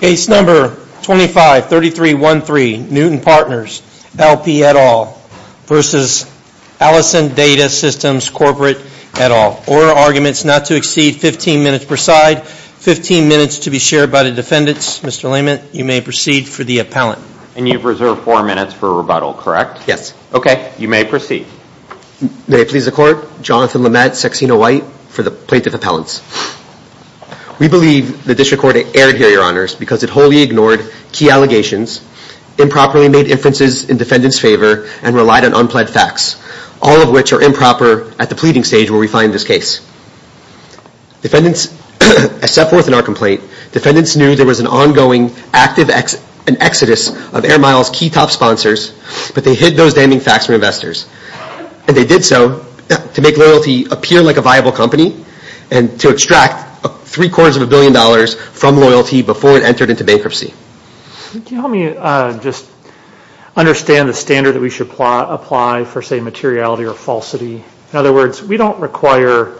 Case number 253313, Newton Partners LP et al v. Allison Data Systems Corp et al. Order arguments not to exceed 15 minutes per side. 15 minutes to be shared by the defendants. Mr. Layman, you may proceed for the appellant. And you've reserved 4 minutes for rebuttal, correct? Yes. Okay, you may proceed. May it please the Court, Jonathan Lamed, Saxena White for the Plaintiff Appellants. We believe the District Court erred here, Your Honors, because it wholly ignored key allegations, improperly made inferences in defendants' favor, and relied on unpledged facts, all of which are improper at the pleading stage where we find this case. As set forth in our complaint, defendants knew there was an ongoing active exodus of Air Miles' key top sponsors, but they hid those damning facts from investors. And they did so to make loyalty appear like a viable company and to extract three-quarters of a billion dollars from loyalty before it entered into bankruptcy. Can you help me just understand the standard that we should apply for, say, materiality or falsity? In other words, we don't require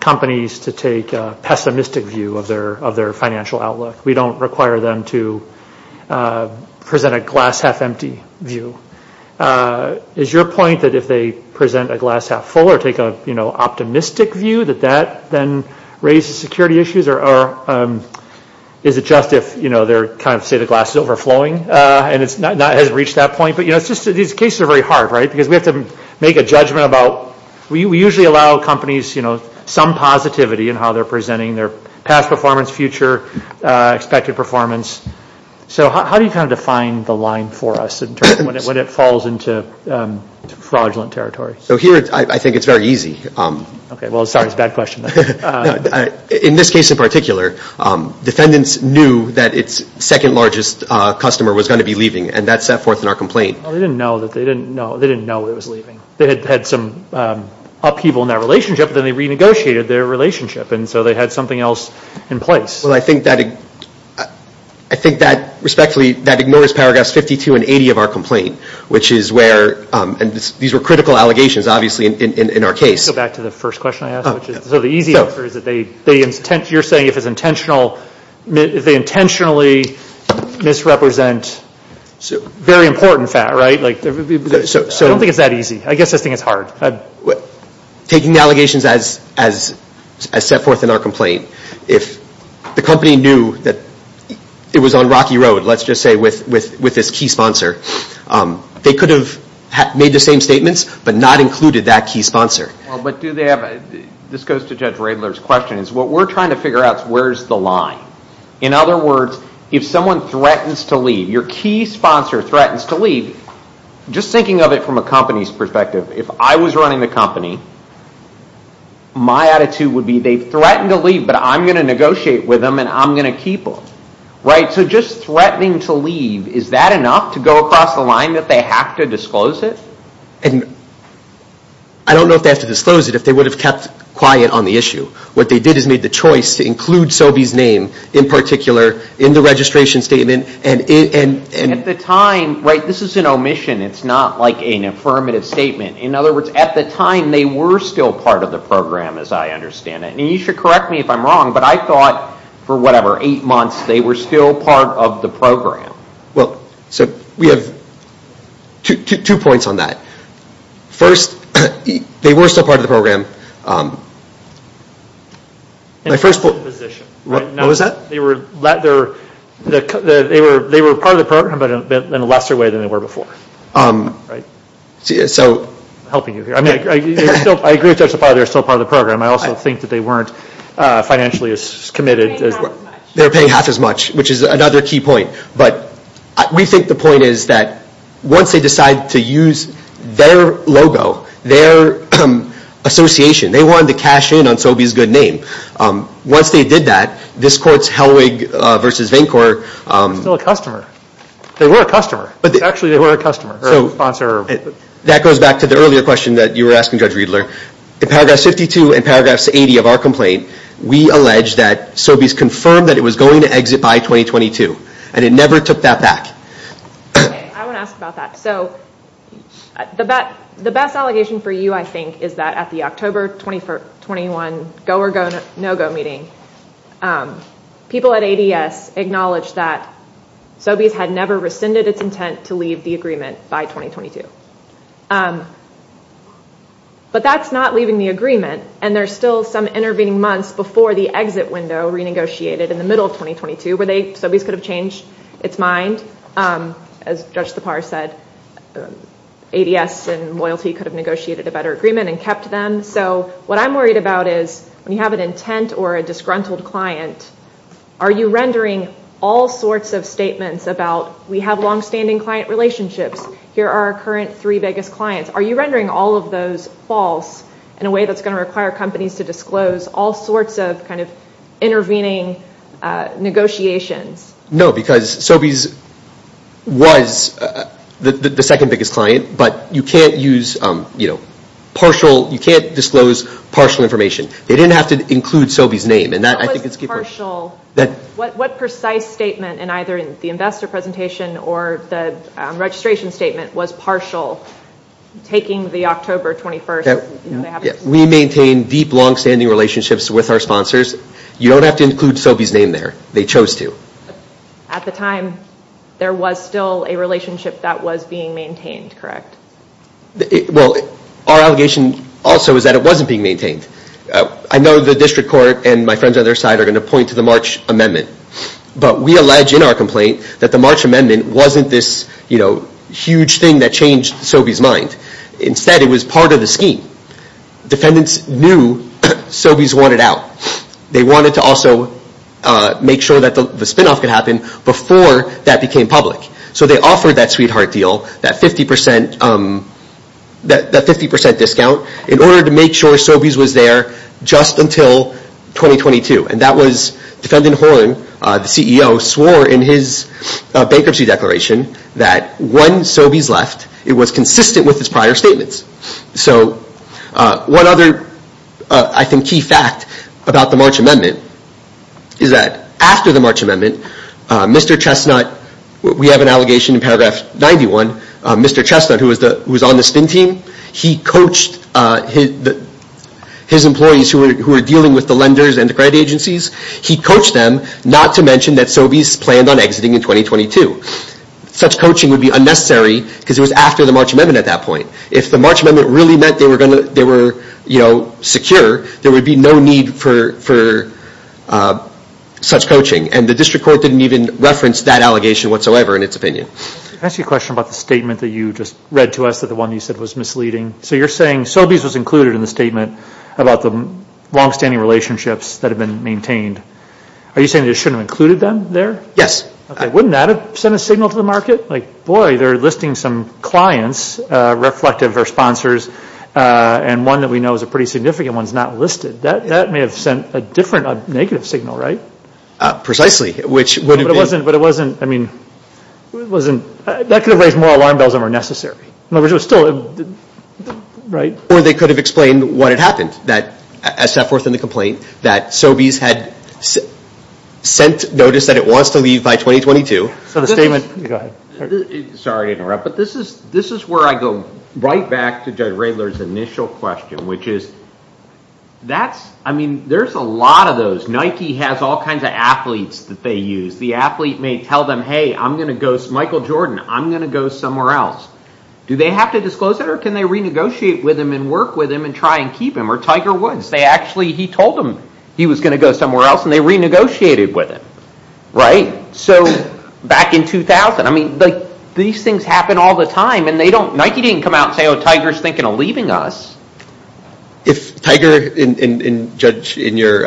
companies to take a pessimistic view of their financial outlook. We don't require them to present a glass-half-empty view. Is your point that if they present a glass-half-full or take an optimistic view, that that then raises security issues? Or is it just if they're kind of, say, the glass is overflowing and it hasn't reached that point? But these cases are very hard, right, because we have to make a judgment about – we usually allow companies some positivity in how they're presenting, their past performance, future expected performance. So how do you kind of define the line for us when it falls into fraudulent territory? So here I think it's very easy. Okay. Well, sorry, it's a bad question. In this case in particular, defendants knew that its second-largest customer was going to be leaving, and that set forth in our complaint. Well, they didn't know that they didn't know it was leaving. They had some upheaval in that relationship, but then they renegotiated their relationship, and so they had something else in place. Well, I think that – I think that, respectfully, that ignores paragraphs 52 and 80 of our complaint, which is where – and these were critical allegations, obviously, in our case. Let me go back to the first question I asked. So the easy answer is that they – you're saying if it's intentional – if they intentionally misrepresent a very important fact, right? I don't think it's that easy. I guess I just think it's hard. Taking the allegations as set forth in our complaint, if the company knew that it was on Rocky Road, let's just say, with this key sponsor, they could have made the same statements but not included that key sponsor. Well, but do they have – this goes to Judge Radler's question. What we're trying to figure out is where's the line. In other words, if someone threatens to leave, your key sponsor threatens to leave, just thinking of it from a company's perspective, if I was running the company, my attitude would be they threatened to leave, but I'm going to negotiate with them and I'm going to keep them, right? So just threatening to leave, is that enough to go across the line that they have to disclose it? And I don't know if they have to disclose it if they would have kept quiet on the issue. What they did is made the choice to include Sobey's name in particular in the registration statement. At the time, right, this is an omission. It's not like an affirmative statement. In other words, at the time, they were still part of the program, as I understand it. And you should correct me if I'm wrong, but I thought for whatever, eight months, they were still part of the program. Well, so we have two points on that. First, they were still part of the program. They were part of the program, but in a lesser way than they were before. I agree with you that they were still part of the program. I also think that they weren't financially as committed. They were paying half as much, which is another key point. But we think the point is that once they decide to use their logo, their association, they wanted to cash in on Sobey's good name. Once they did that, this court's Helwig v. Vaincore. They were still a customer. They were a customer. Actually, they were a customer, or a sponsor. That goes back to the earlier question that you were asking, Judge Riedler. In paragraph 52 and paragraph 80 of our complaint, we allege that Sobey's confirmed that it was going to exit by 2022, and it never took that back. I want to ask about that. The best allegation for you, I think, is that at the October 2021 Go or No Go meeting, people at ADS acknowledged that Sobey's had never rescinded its intent to leave the agreement by 2022. But that's not leaving the agreement, and there's still some intervening months before the exit window renegotiated in the middle of 2022 where Sobey's could have changed its mind, as Judge Sipar said, ADS and loyalty could have negotiated a better agreement and kept them. So what I'm worried about is when you have an intent or a disgruntled client, are you rendering all sorts of statements about, we have longstanding client relationships, here are our current three biggest clients. Are you rendering all of those false in a way that's going to require companies to disclose all sorts of kind of intervening negotiations? No, because Sobey's was the second biggest client, but you can't use partial, you can't disclose partial information. They didn't have to include Sobey's name. What precise statement in either the investor presentation or the registration statement was partial taking the October 21st? We maintain deep longstanding relationships with our sponsors. You don't have to include Sobey's name there. They chose to. At the time, there was still a relationship that was being maintained, correct? Well, our allegation also is that it wasn't being maintained. I know the district court and my friends on their side are going to point to the March Amendment, but we allege in our complaint that the March Amendment wasn't this huge thing that changed Sobey's mind. Instead, it was part of the scheme. Defendants knew Sobey's wanted out. They wanted to also make sure that the spinoff could happen before that became public. So they offered that sweetheart deal, that 50% discount, in order to make sure Sobey's was there just until 2022. And that was Defendant Horne, the CEO, swore in his bankruptcy declaration that when Sobey's left, it was consistent with his prior statements. One other, I think, key fact about the March Amendment is that after the March Amendment, Mr. Chestnut, we have an allegation in paragraph 91, Mr. Chestnut, who was on the spin team, he coached his employees who were dealing with the lenders and the credit agencies, he coached them not to mention that Sobey's planned on exiting in 2022. Such coaching would be unnecessary because it was after the March Amendment at that point. If the March Amendment really meant they were secure, there would be no need for such coaching. And the district court didn't even reference that allegation whatsoever in its opinion. Can I ask you a question about the statement that you just read to us, that the one you said was misleading? So you're saying Sobey's was included in the statement about the longstanding relationships that have been maintained. Are you saying they shouldn't have included them there? Yes. Okay, wouldn't that have sent a signal to the market? Like, boy, they're listing some clients, reflective or sponsors, and one that we know is a pretty significant one is not listed. That may have sent a different negative signal, right? Precisely. But it wasn't, I mean, that could have raised more alarm bells than were necessary. In other words, it was still, right? Or they could have explained what had happened, as set forth in the complaint, that Sobey's had sent notice that it wants to leave by 2022. So the statement Go ahead. Sorry to interrupt, but this is where I go right back to Judge Raehler's initial question, which is that's, I mean, there's a lot of those. Nike has all kinds of athletes that they use. The athlete may tell them, hey, I'm going to go, Michael Jordan, I'm going to go somewhere else. Do they have to disclose it, or can they renegotiate with him and work with him and try and keep him? Or Tiger Woods, they actually, he told them he was going to go somewhere else, and they renegotiated with him, right? So back in 2000, I mean, these things happen all the time, and they don't, Nike didn't come out and say, oh, Tiger's thinking of leaving us. If Tiger, and Judge, in your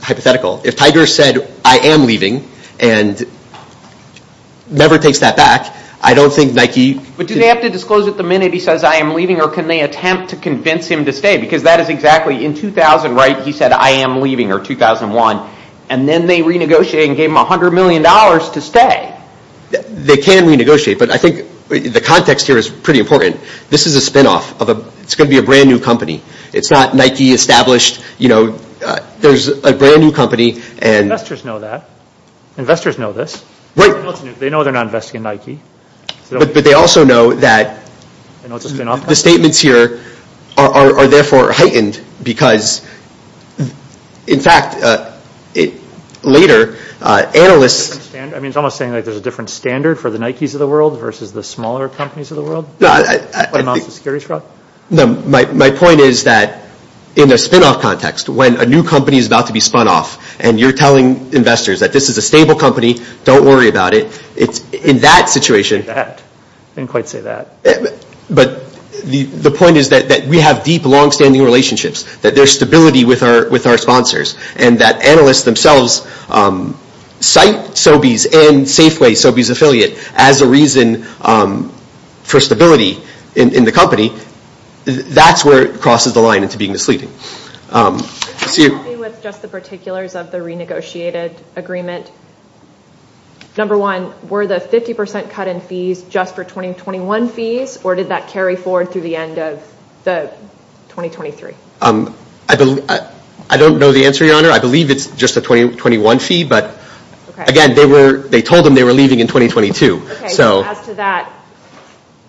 hypothetical, if Tiger said, I am leaving, and never takes that back, I don't think Nike But do they have to disclose it the minute he says, I am leaving, or can they attempt to convince him to stay? Because that is exactly, in 2000, right, he said, I am leaving, or 2001. And then they renegotiated and gave him $100 million to stay. They can renegotiate, but I think the context here is pretty important. This is a spinoff. It's going to be a brand new company. It's not Nike established, you know, there's a brand new company. Investors know that. Investors know this. Wait. They know they're not investing in Nike. But they also know that the statements here are therefore heightened, because, in fact, later, analysts I mean, it's almost like there's a different standard for the Nikes of the world versus the smaller companies of the world? No, my point is that in a spinoff context, when a new company is about to be spun off, and you're telling investors that this is a stable company, don't worry about it, in that situation I didn't quite say that. But the point is that we have deep, long-standing relationships, that there's stability with our sponsors, and that analysts themselves cite Sobeys and Safeway, Sobeys' affiliate, as a reason for stability in the company. That's where it crosses the line into being misleading. With just the particulars of the renegotiated agreement, number one, were the 50% cut in fees just for 2021 fees, or did that carry forward through the end of 2023? I don't know the answer, Your Honor. I believe it's just the 2021 fee, but, again, they told them they were leaving in 2022. As to that,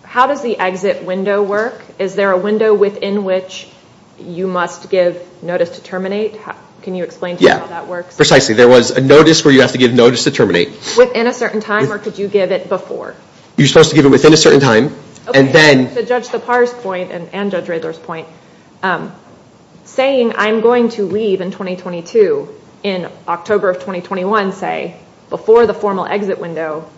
how does the exit window work? Is there a window within which you must give notice to terminate? Can you explain to me how that works? Precisely. There was a notice where you have to give notice to terminate. Within a certain time, or could you give it before? You're supposed to give it within a certain time, and then... To judge the par's point, and Judge Riddler's point, saying, I'm going to leave in 2022, in October of 2021, say, before the formal exit window,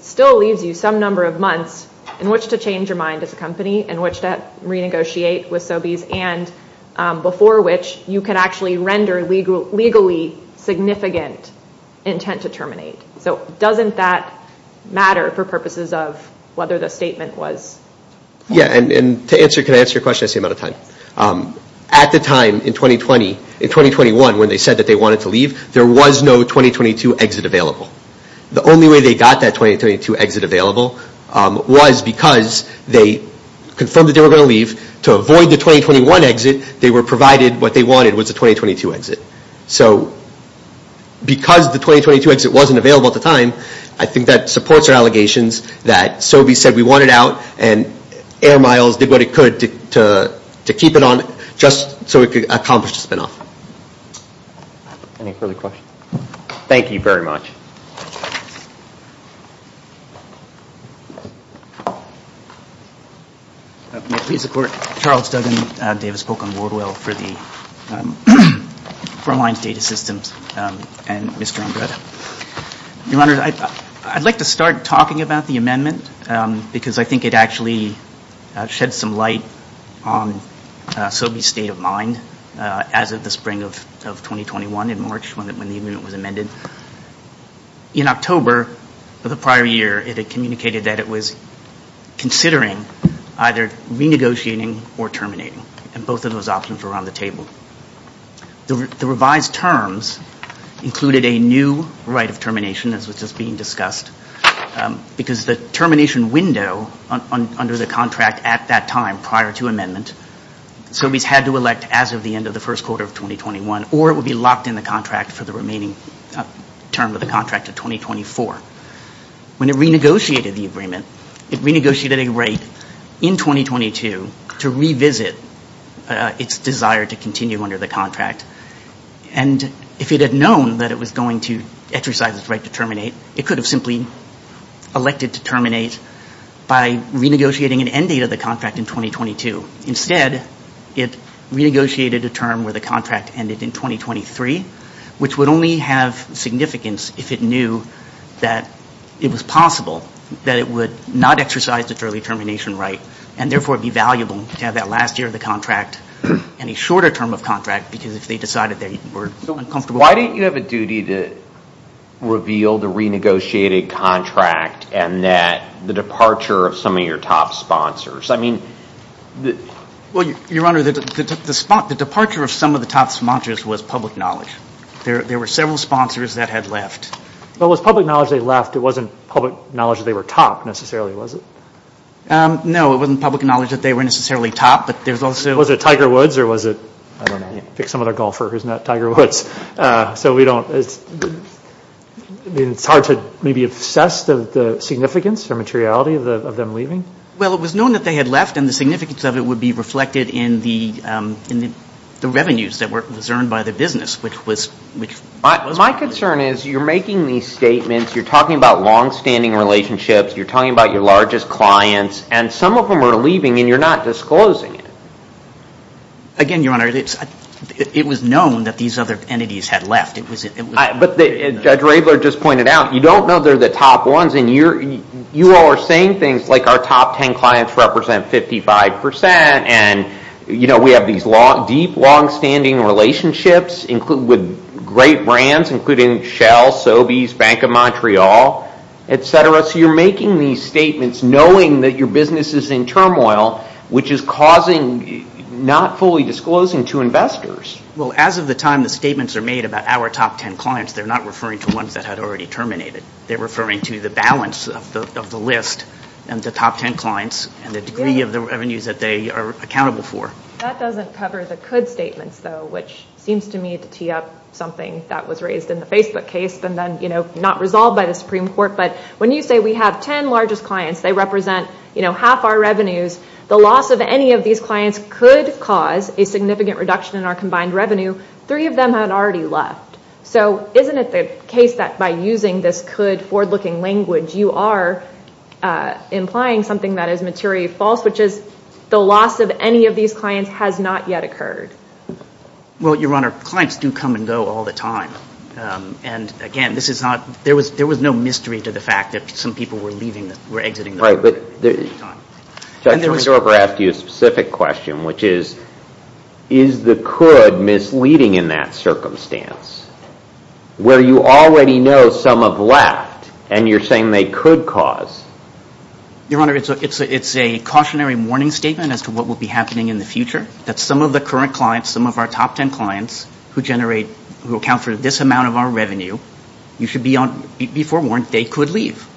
still leaves you some number of months in which to change your mind as a company, in which to renegotiate with Sobeys, and before which you can actually render legally significant intent to terminate. So doesn't that matter for purposes of whether the statement was... Yeah, and to answer... Can I answer your question? I see I'm out of time. At the time, in 2020, in 2021, when they said that they wanted to leave, there was no 2022 exit available. The only way they got that 2022 exit available was because they confirmed that they were going to leave to avoid the 2021 exit. They were provided what they wanted was a 2022 exit. So because the 2022 exit wasn't available at the time, I think that supports our allegations that Sobeys said we wanted out, and Air Miles did what it could to keep it on, just so it could accomplish the spinoff. Any further questions? Thank you very much. May it please the Court. Charles Duggan, Davis Polk and Woodwell for the Foreign Lines Data Systems and Mr. Andretta. Your Honor, I'd like to start talking about the amendment because I think it actually sheds some light on Sobeys' state of mind as of the spring of 2021 in March when the amendment was amended. In October of the prior year, it had communicated that it was considering either renegotiating or terminating, and both of those options were on the table. The revised terms included a new right of termination, as was just being discussed, because the termination window under the contract at that time prior to amendment, Sobeys had to elect as of the end of the first quarter of 2021, or it would be locked in the contract for the remaining term of the contract of 2024. When it renegotiated the agreement, it renegotiated a right in 2022 to revisit its desire to continue under the contract. And if it had known that it was going to exercise its right to terminate, it could have simply elected to terminate by renegotiating an end date of the contract in 2022. Instead, it renegotiated a term where the contract ended in 2023, which would only have significance if it knew that it was possible that it would not exercise its early termination right and therefore be valuable to have that last year of the contract and a shorter term of contract, because if they decided they were uncomfortable. Why didn't you have a duty to reveal the renegotiated contract and that the departure of some of your top sponsors? I mean... Well, Your Honor, the departure of some of the top sponsors was public knowledge. There were several sponsors that had left. Well, it was public knowledge they left. It wasn't public knowledge that they were top necessarily, was it? No, it wasn't public knowledge that they were necessarily top, but there's also... Was it Tiger Woods or was it... I don't know. Pick some other golfer who's not Tiger Woods. So we don't... I mean, it's hard to maybe assess the significance or materiality of them leaving? Well, it was known that they had left and the significance of it would be reflected in the revenues that was earned by the business, which was... My concern is you're making these statements, you're talking about long-standing relationships, you're talking about your largest clients, and some of them are leaving and you're not disclosing it. Again, Your Honor, it was known that these other entities had left. But Judge Raebler just pointed out, you don't know they're the top ones and you all are saying things like our top ten clients represent 55% and we have these deep, long-standing relationships with great brands, including Shell, Sobeys, Bank of Montreal, et cetera. So you're making these statements knowing that your business is in turmoil, which is causing not fully disclosing to investors. Well, as of the time the statements are made about our top ten clients, they're not referring to ones that had already terminated. They're referring to the balance of the list and the top ten clients and the degree of the revenues that they are accountable for. That doesn't cover the could statements, though, which seems to me to tee up something that was raised in the Facebook case and then not resolved by the Supreme Court. But when you say we have ten largest clients, they represent half our revenues, the loss of any of these clients could cause a significant reduction in our combined revenue. Three of them had already left. So isn't it the case that by using this could forward-looking language, you are implying something that is materially false, which is the loss of any of these clients has not yet occurred? Well, Your Honor, clients do come and go all the time. And, again, this is not... There was no mystery to the fact that some people were leaving, were exiting... Right, but... And there was... Judge, let me ask you a specific question, which is, is the could misleading in that circumstance where you already know some have left and you're saying they could cause? Your Honor, it's a cautionary warning statement as to what will be happening in the future, that some of the current clients, some of our top ten clients who generate... who account for this amount of our revenue, you should be forewarned they could leave.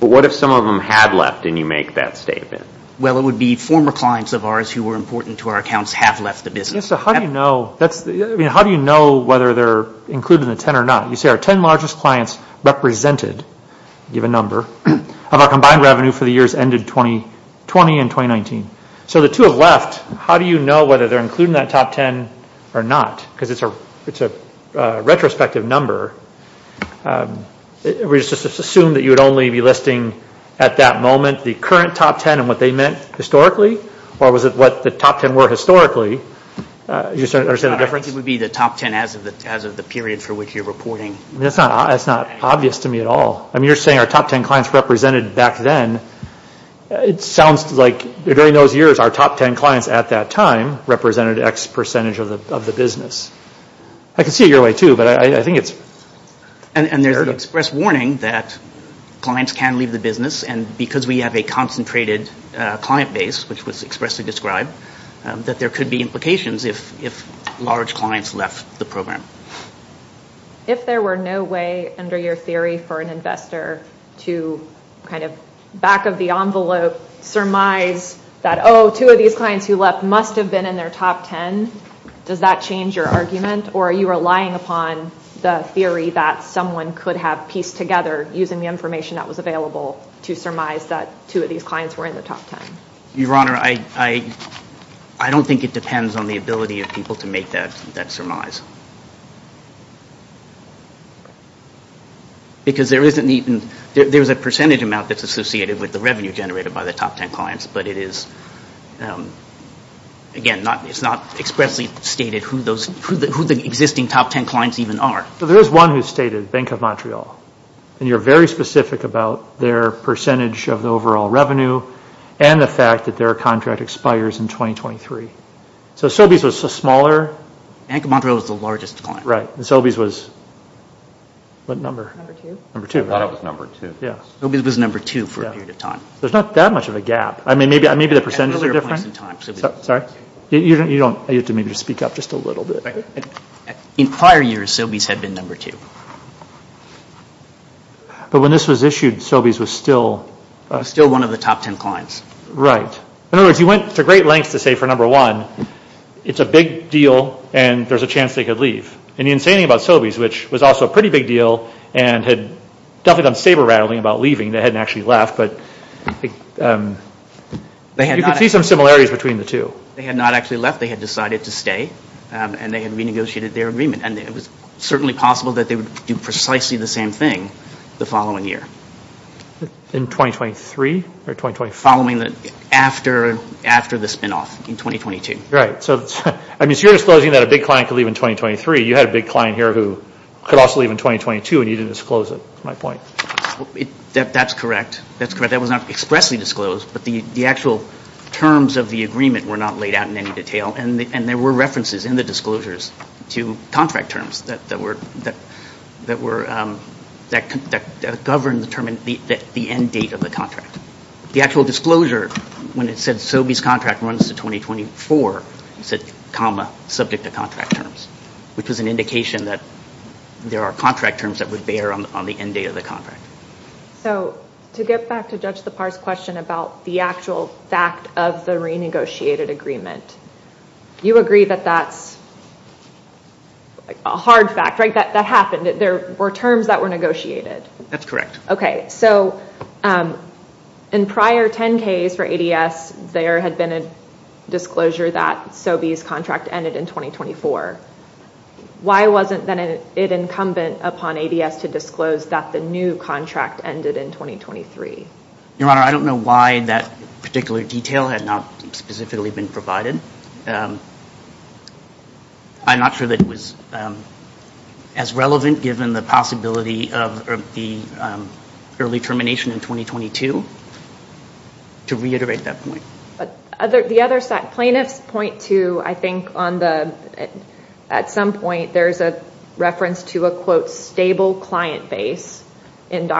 But what if some of them had left and you make that statement? Well, it would be former clients of ours who were important to our accounts have left the business. So how do you know... I mean, how do you know whether they're included in the ten or not? You say our ten largest clients represented, give a number, of our combined revenue for the years ended 2020 and 2019. So the two have left. How do you know whether they're included in that top ten or not? Because it's a retrospective number. We just assumed that you would only be listing at that moment the current top ten and what they meant historically, or was it what the top ten were historically? Do you understand the difference? I think it would be the top ten as of the period for which you're reporting. That's not obvious to me at all. I mean, you're saying our top ten clients represented back then. It sounds like during those years, our top ten clients at that time represented X percentage of the business. I can see it your way too, but I think it's... And there's an express warning that clients can leave the business and because we have a concentrated client base, which was expressly described, that there could be implications if large clients left the program. If there were no way under your theory for an investor to kind of back of the envelope, surmise that, oh, two of these clients who left must have been in their top ten, does that change your argument? Or are you relying upon the theory that someone could have pieced together using the information that was available to surmise that two of these clients were in the top ten? Your Honor, I don't think it depends on the ability of people to make that surmise. Because there isn't even... There's a percentage amount that's associated with the revenue generated by the top ten clients, but it is, again, it's not expressly stated who the existing top ten clients even are. There is one who's stated, Bank of Montreal, and you're very specific about their percentage of the overall revenue and the fact that their contract expires in 2023. So Sobeys was a smaller... Bank of Montreal was the largest client. Right. Sobeys was what number? Number two. Number two, right? I thought it was number two. Sobeys was number two for a period of time. There's not that much of a gap. I mean, maybe the percentages are different. At earlier points in time, Sobeys was number two. Sorry? You don't... You have to maybe just speak up just a little bit. In prior years, Sobeys had been number two. But when this was issued, Sobeys was still... Still one of the top ten clients. Right. In other words, you went to great lengths to say, for number one, it's a big deal, and there's a chance they could leave. And the insane thing about Sobeys, which was also a pretty big deal and had definitely done saber-rattling about leaving, they hadn't actually left, but you could see some similarities between the two. They had not actually left. They had decided to stay, and they had renegotiated their agreement, and it was certainly possible that they would do precisely the same thing the following year. In 2023 or 2023? Following the... After the spinoff in 2022. Right. So you're disclosing that a big client could leave in 2023. You had a big client here who could also leave in 2022, and you didn't disclose it, is my point. That's correct. That's correct. That was not expressly disclosed, but the actual terms of the agreement were not laid out in any detail, and there were references in the disclosures to contract terms that governed the end date of the contract. The actual disclosure, when it said Sobeys contract runs to 2024, it said, comma, subject to contract terms, which was an indication that there are contract terms that would bear on the end date of the contract. So to get back to Judge Lepar's question about the actual fact of the renegotiated agreement, you agree that that's a hard fact, right? That happened. There were terms that were negotiated. That's correct. Okay. So in prior 10Ks for ADS, there had been a disclosure that Sobeys contract ended in 2024. Why wasn't then it incumbent upon ADS to disclose that the new contract ended in 2023? Your Honor, I don't know why that particular detail had not specifically been provided. I'm not sure that it was as relevant, given the possibility of the early termination in 2022, to reiterate that point. The other plaintiffs point to, I think, at some point there's a reference to a, quote, And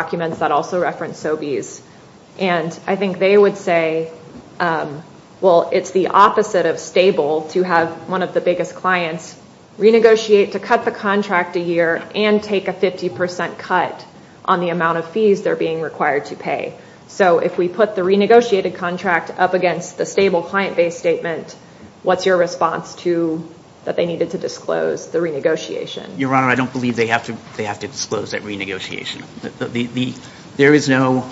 I think they would say, well, it's the opposite of stable to have one of the biggest clients renegotiate to cut the contract a year and take a 50% cut on the amount of fees they're being required to pay. So if we put the renegotiated contract up against the stable client-based statement, what's your response to that they needed to disclose the renegotiation? Your Honor, I don't believe they have to disclose that renegotiation. There is no,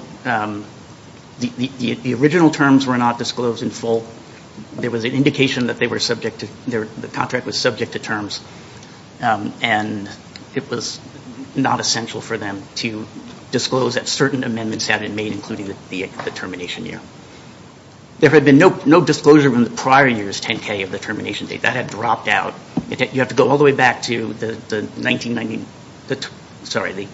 the original terms were not disclosed in full. There was an indication that they were subject to, the contract was subject to terms, and it was not essential for them to disclose that certain amendments had been made, including the termination year. There had been no disclosure in the prior years, 10K, of the termination date. That had dropped out. You have to go all the way back to the 1990, sorry, the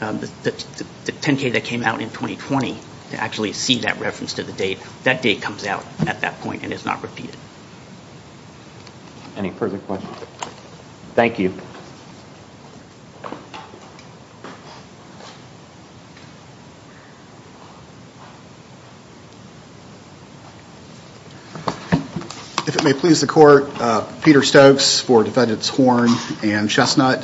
10K that came out in 2020 to actually see that reference to the date. That date comes out at that point and is not repeated. Any further questions? Thank you. If it may please the Court, I'm Peter Stokes for Defendants Horn and Chestnut.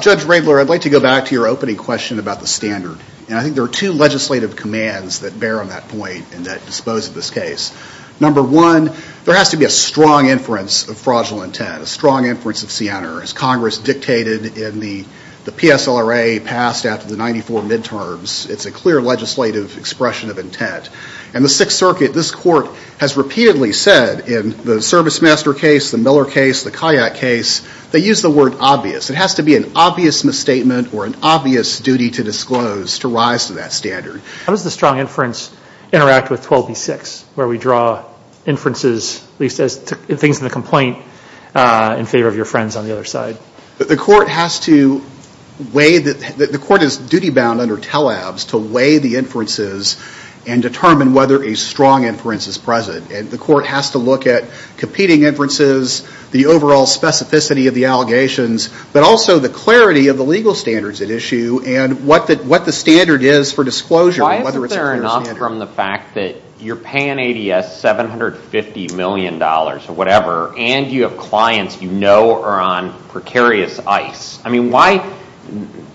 Judge Raebler, I'd like to go back to your opening question about the standard. And I think there are two legislative commands that bear on that point and that dispose of this case. Number one, there has to be a strong inference of fraudulent intent, a strong inference of Siena. As Congress dictated in the PSLRA passed after the 94 midterms, it's a clear legislative expression of intent. And the Sixth Circuit, this Court, has repeatedly said in the ServiceMaster case, the Miller case, the Kayak case, they use the word obvious. It has to be an obvious misstatement or an obvious duty to disclose to rise to that standard. How does the strong inference interact with 12B6 where we draw inferences, at least as things in the complaint, in favor of your friends on the other side? The Court has to weigh, the Court is duty-bound under tele-abs to weigh the inferences and determine whether a strong inference is present. The Court has to look at competing inferences, the overall specificity of the allegations, but also the clarity of the legal standards at issue and what the standard is for disclosure and whether it's a clear standard. Why isn't there enough from the fact that you're paying ADS $750 million or whatever and you have clients you know are on precarious ice? I mean, why,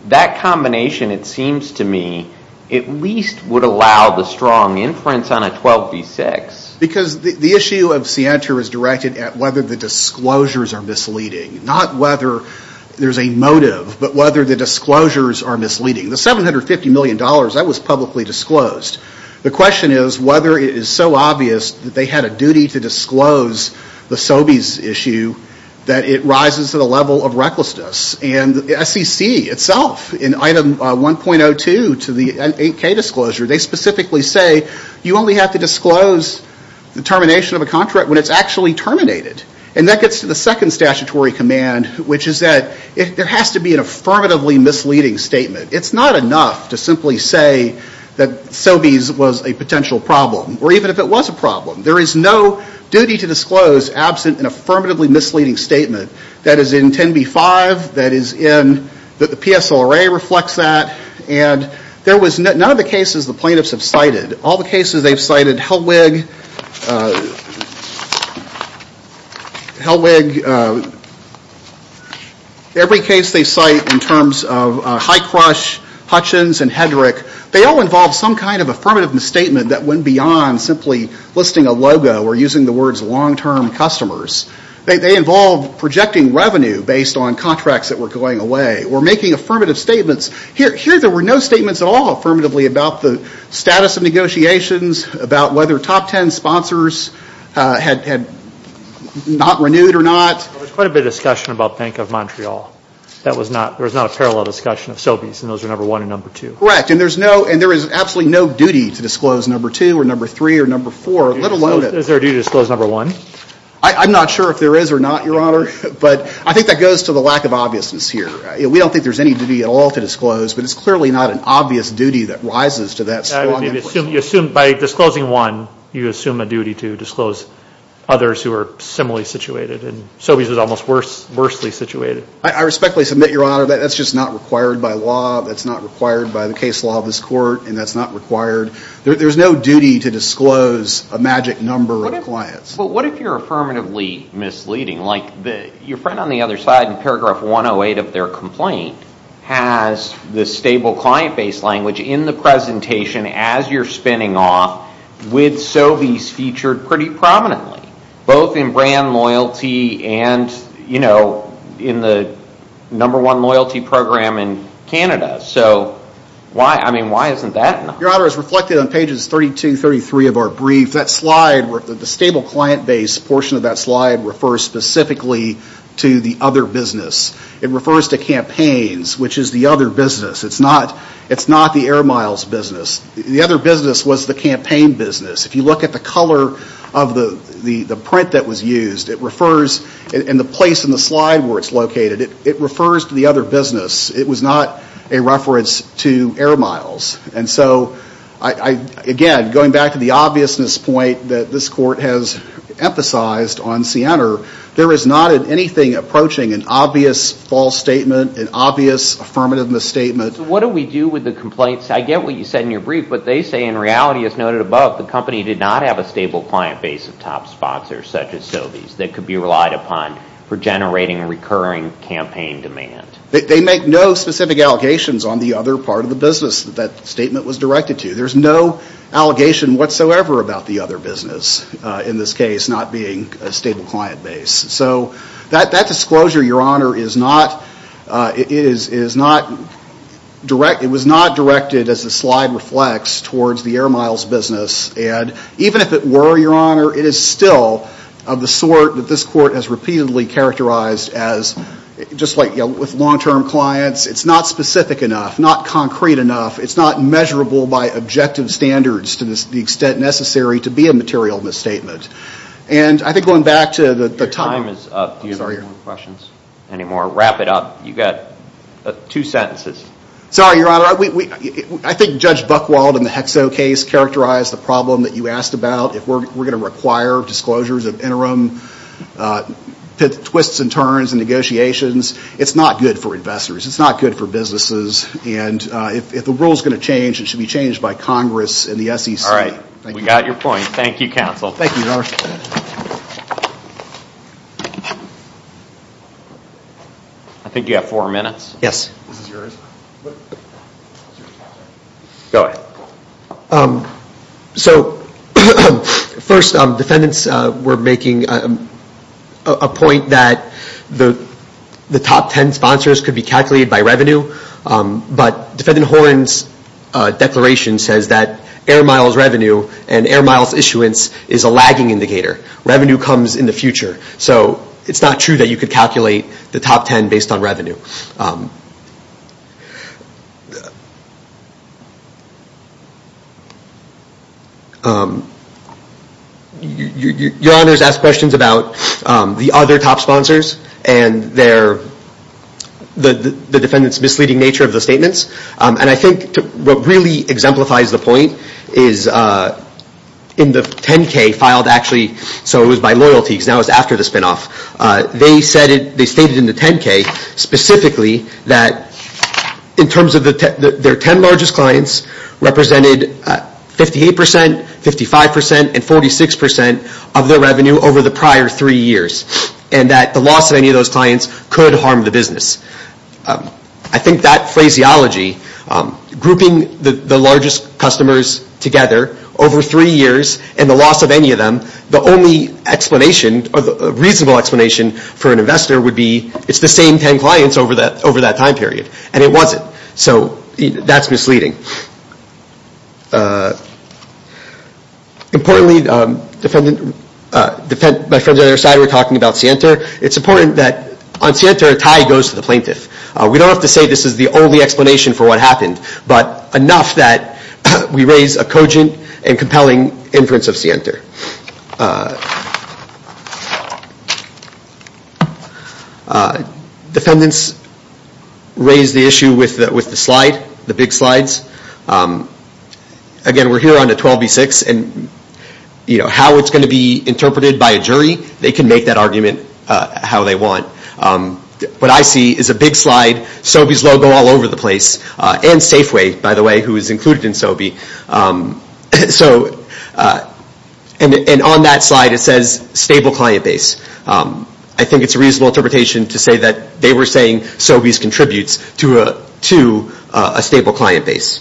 that combination, it seems to me, at least would allow the strong inference on a 12B6. Because the issue of Sienta is directed at whether the disclosures are misleading, not whether there's a motive, but whether the disclosures are misleading. The $750 million, that was publicly disclosed. The question is whether it is so obvious that they had a duty to disclose the Sobeys issue that it rises to the level of recklessness. And the SEC itself, in Item 1.02 to the 8K disclosure, they specifically say you only have to disclose the termination of a contract when it's actually terminated. And that gets to the second statutory command, which is that there has to be an affirmatively misleading statement. It's not enough to simply say that Sobeys was a potential problem, or even if it was a problem. There is no duty to disclose absent an affirmatively misleading statement that is in 10B5, that the PSLRA reflects that, and there was none of the cases the plaintiffs have cited. All the cases they've cited, Hellwig, every case they cite in terms of Highcrush, Hutchins, and Hedrick, they all involve some kind of affirmative misstatement that went beyond simply listing a logo or using the words long-term customers. They involve projecting revenue based on contracts that were going away or making affirmative statements. Here there were no statements at all affirmatively about the status of negotiations, about whether top ten sponsors had not renewed or not. There was quite a bit of discussion about Bank of Montreal. There was not a parallel discussion of Sobeys, and those were number one and number two. Correct. And there is absolutely no duty to disclose number two or number three or number four, let alone it. Is there a duty to disclose number one? I'm not sure if there is or not, Your Honor, but I think that goes to the lack of obviousness here. We don't think there's any duty at all to disclose, but it's clearly not an obvious duty that rises to that. You assume by disclosing one, you assume a duty to disclose others who are similarly situated, and Sobeys is almost worse, worsely situated. I respectfully submit, Your Honor, that that's just not required by law. That's not required by the case law of this court, and that's not required. There's no duty to disclose a magic number of clients. Well, what if you're affirmatively misleading? Like your friend on the other side in paragraph 108 of their complaint has the stable client base language in the presentation as you're spinning off with Sobeys featured pretty prominently, both in brand loyalty and, you know, in the number one loyalty program in Canada. So, I mean, why isn't that enough? Your Honor, as reflected on pages 32, 33 of our brief, that slide, the stable client base portion of that slide refers specifically to the other business. It refers to campaigns, which is the other business. It's not the Air Miles business. The other business was the campaign business. If you look at the color of the print that was used, it refers in the place in the slide where it's located, it refers to the other business. It was not a reference to Air Miles. And so, again, going back to the obviousness point that this court has emphasized on Sienner, there is not in anything approaching an obvious false statement, an obvious affirmative misstatement. So what do we do with the complaints? I get what you said in your brief, but they say in reality, as noted above, the company did not have a stable client base of top sponsors such as Sobeys that could be relied upon for generating recurring campaign demand. They make no specific allegations on the other part of the business that that statement was directed to. There's no allegation whatsoever about the other business, in this case, not being a stable client base. So that disclosure, Your Honor, it was not directed, as the slide reflects, towards the Air Miles business. And even if it were, Your Honor, it is still of the sort that this court has repeatedly characterized as, just like with long-term clients, it's not specific enough, not concrete enough. It's not measurable by objective standards to the extent necessary to be a material misstatement. And I think going back to the time... Your time is up. Do you have any more questions? Any more? Wrap it up. You've got two sentences. Sorry, Your Honor. I think Judge Buchwald in the HECSO case characterized the problem that you asked about. If we're going to require disclosures of interim twists and turns and negotiations, it's not good for investors. It's not good for businesses. And if the rule is going to change, it should be changed by Congress and the SEC. We got your point. Thank you, counsel. Thank you, Your Honor. I think you have four minutes. Yes. This is yours. Go ahead. So first, defendants were making a point that the top ten sponsors could be calculated by revenue. But Defendant Horan's declaration says that air miles revenue and air miles issuance is a lagging indicator. Revenue comes in the future. So it's not true that you could calculate the top ten based on revenue. Your Honor has asked questions about the other top sponsors and the defendant's misleading nature of the statements. And I think what really exemplifies the point is in the 10-K filed actually, so it was by loyalty because now it's after the spinoff. They stated in the 10-K specifically that in terms of their ten largest clients represented 58 percent, 55 percent, and 46 percent of their revenue over the prior three years and that the loss of any of those clients could harm the business. I think that phraseology, grouping the largest customers together over three years and the loss of any of them, the only explanation or the reasonable explanation for an investor would be it's the same ten clients over that time period. And it wasn't. So that's misleading. Importantly, my friend on the other side were talking about Sienta. It's important that on Sienta a tie goes to the plaintiff. We don't have to say this is the only explanation for what happened, but enough that we raise a cogent and compelling inference of Sienta. Defendants raise the issue with the slide, the big slides. Again, we're here on a 12B6 and how it's going to be interpreted by a jury, they can make that argument how they want. What I see is a big slide, Sobey's logo all over the place, and Safeway, by the way, who is included in Sobey. So, and on that slide it says stable client base. I think it's a reasonable interpretation to say that they were saying Sobey's contributes to a stable client base.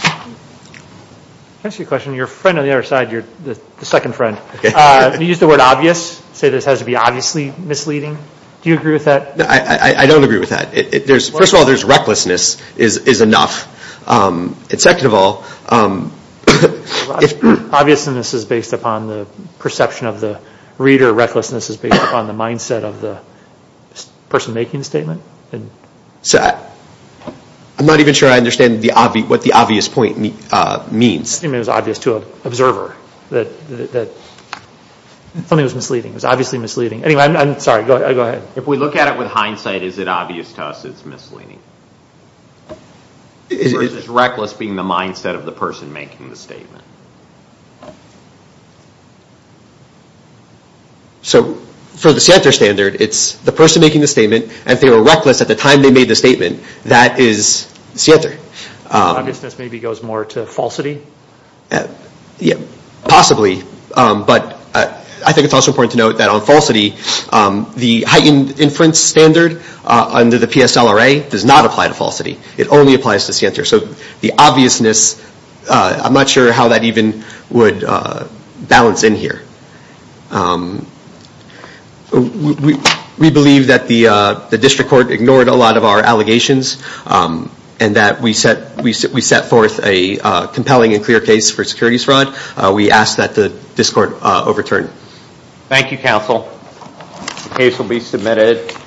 Can I ask you a question? Your friend on the other side, the second friend, you used the word obvious, say this has to be obviously misleading. Do you agree with that? I don't agree with that. First of all, there's recklessness is enough. Second of all, Obviousness is based upon the perception of the reader. Recklessness is based upon the mindset of the person making the statement. I'm not even sure I understand what the obvious point means. It was obvious to an observer. Something was misleading. It was obviously misleading. Anyway, I'm sorry, go ahead. If we look at it with hindsight, is it obvious to us it's misleading? Versus reckless being the mindset of the person making the statement. So, for the Sienter standard, it's the person making the statement, and if they were reckless at the time they made the statement, that is Sienter. Obviousness maybe goes more to falsity? Possibly, but I think it's also important to note that on falsity, the heightened inference standard under the PSLRA does not apply to falsity. It only applies to Sienter. So, the obviousness, I'm not sure how that even would balance in here. We believe that the district court ignored a lot of our allegations, and that we set forth a compelling and clear case for securities fraud. We ask that this court overturn. Thank you, counsel. The case will be submitted.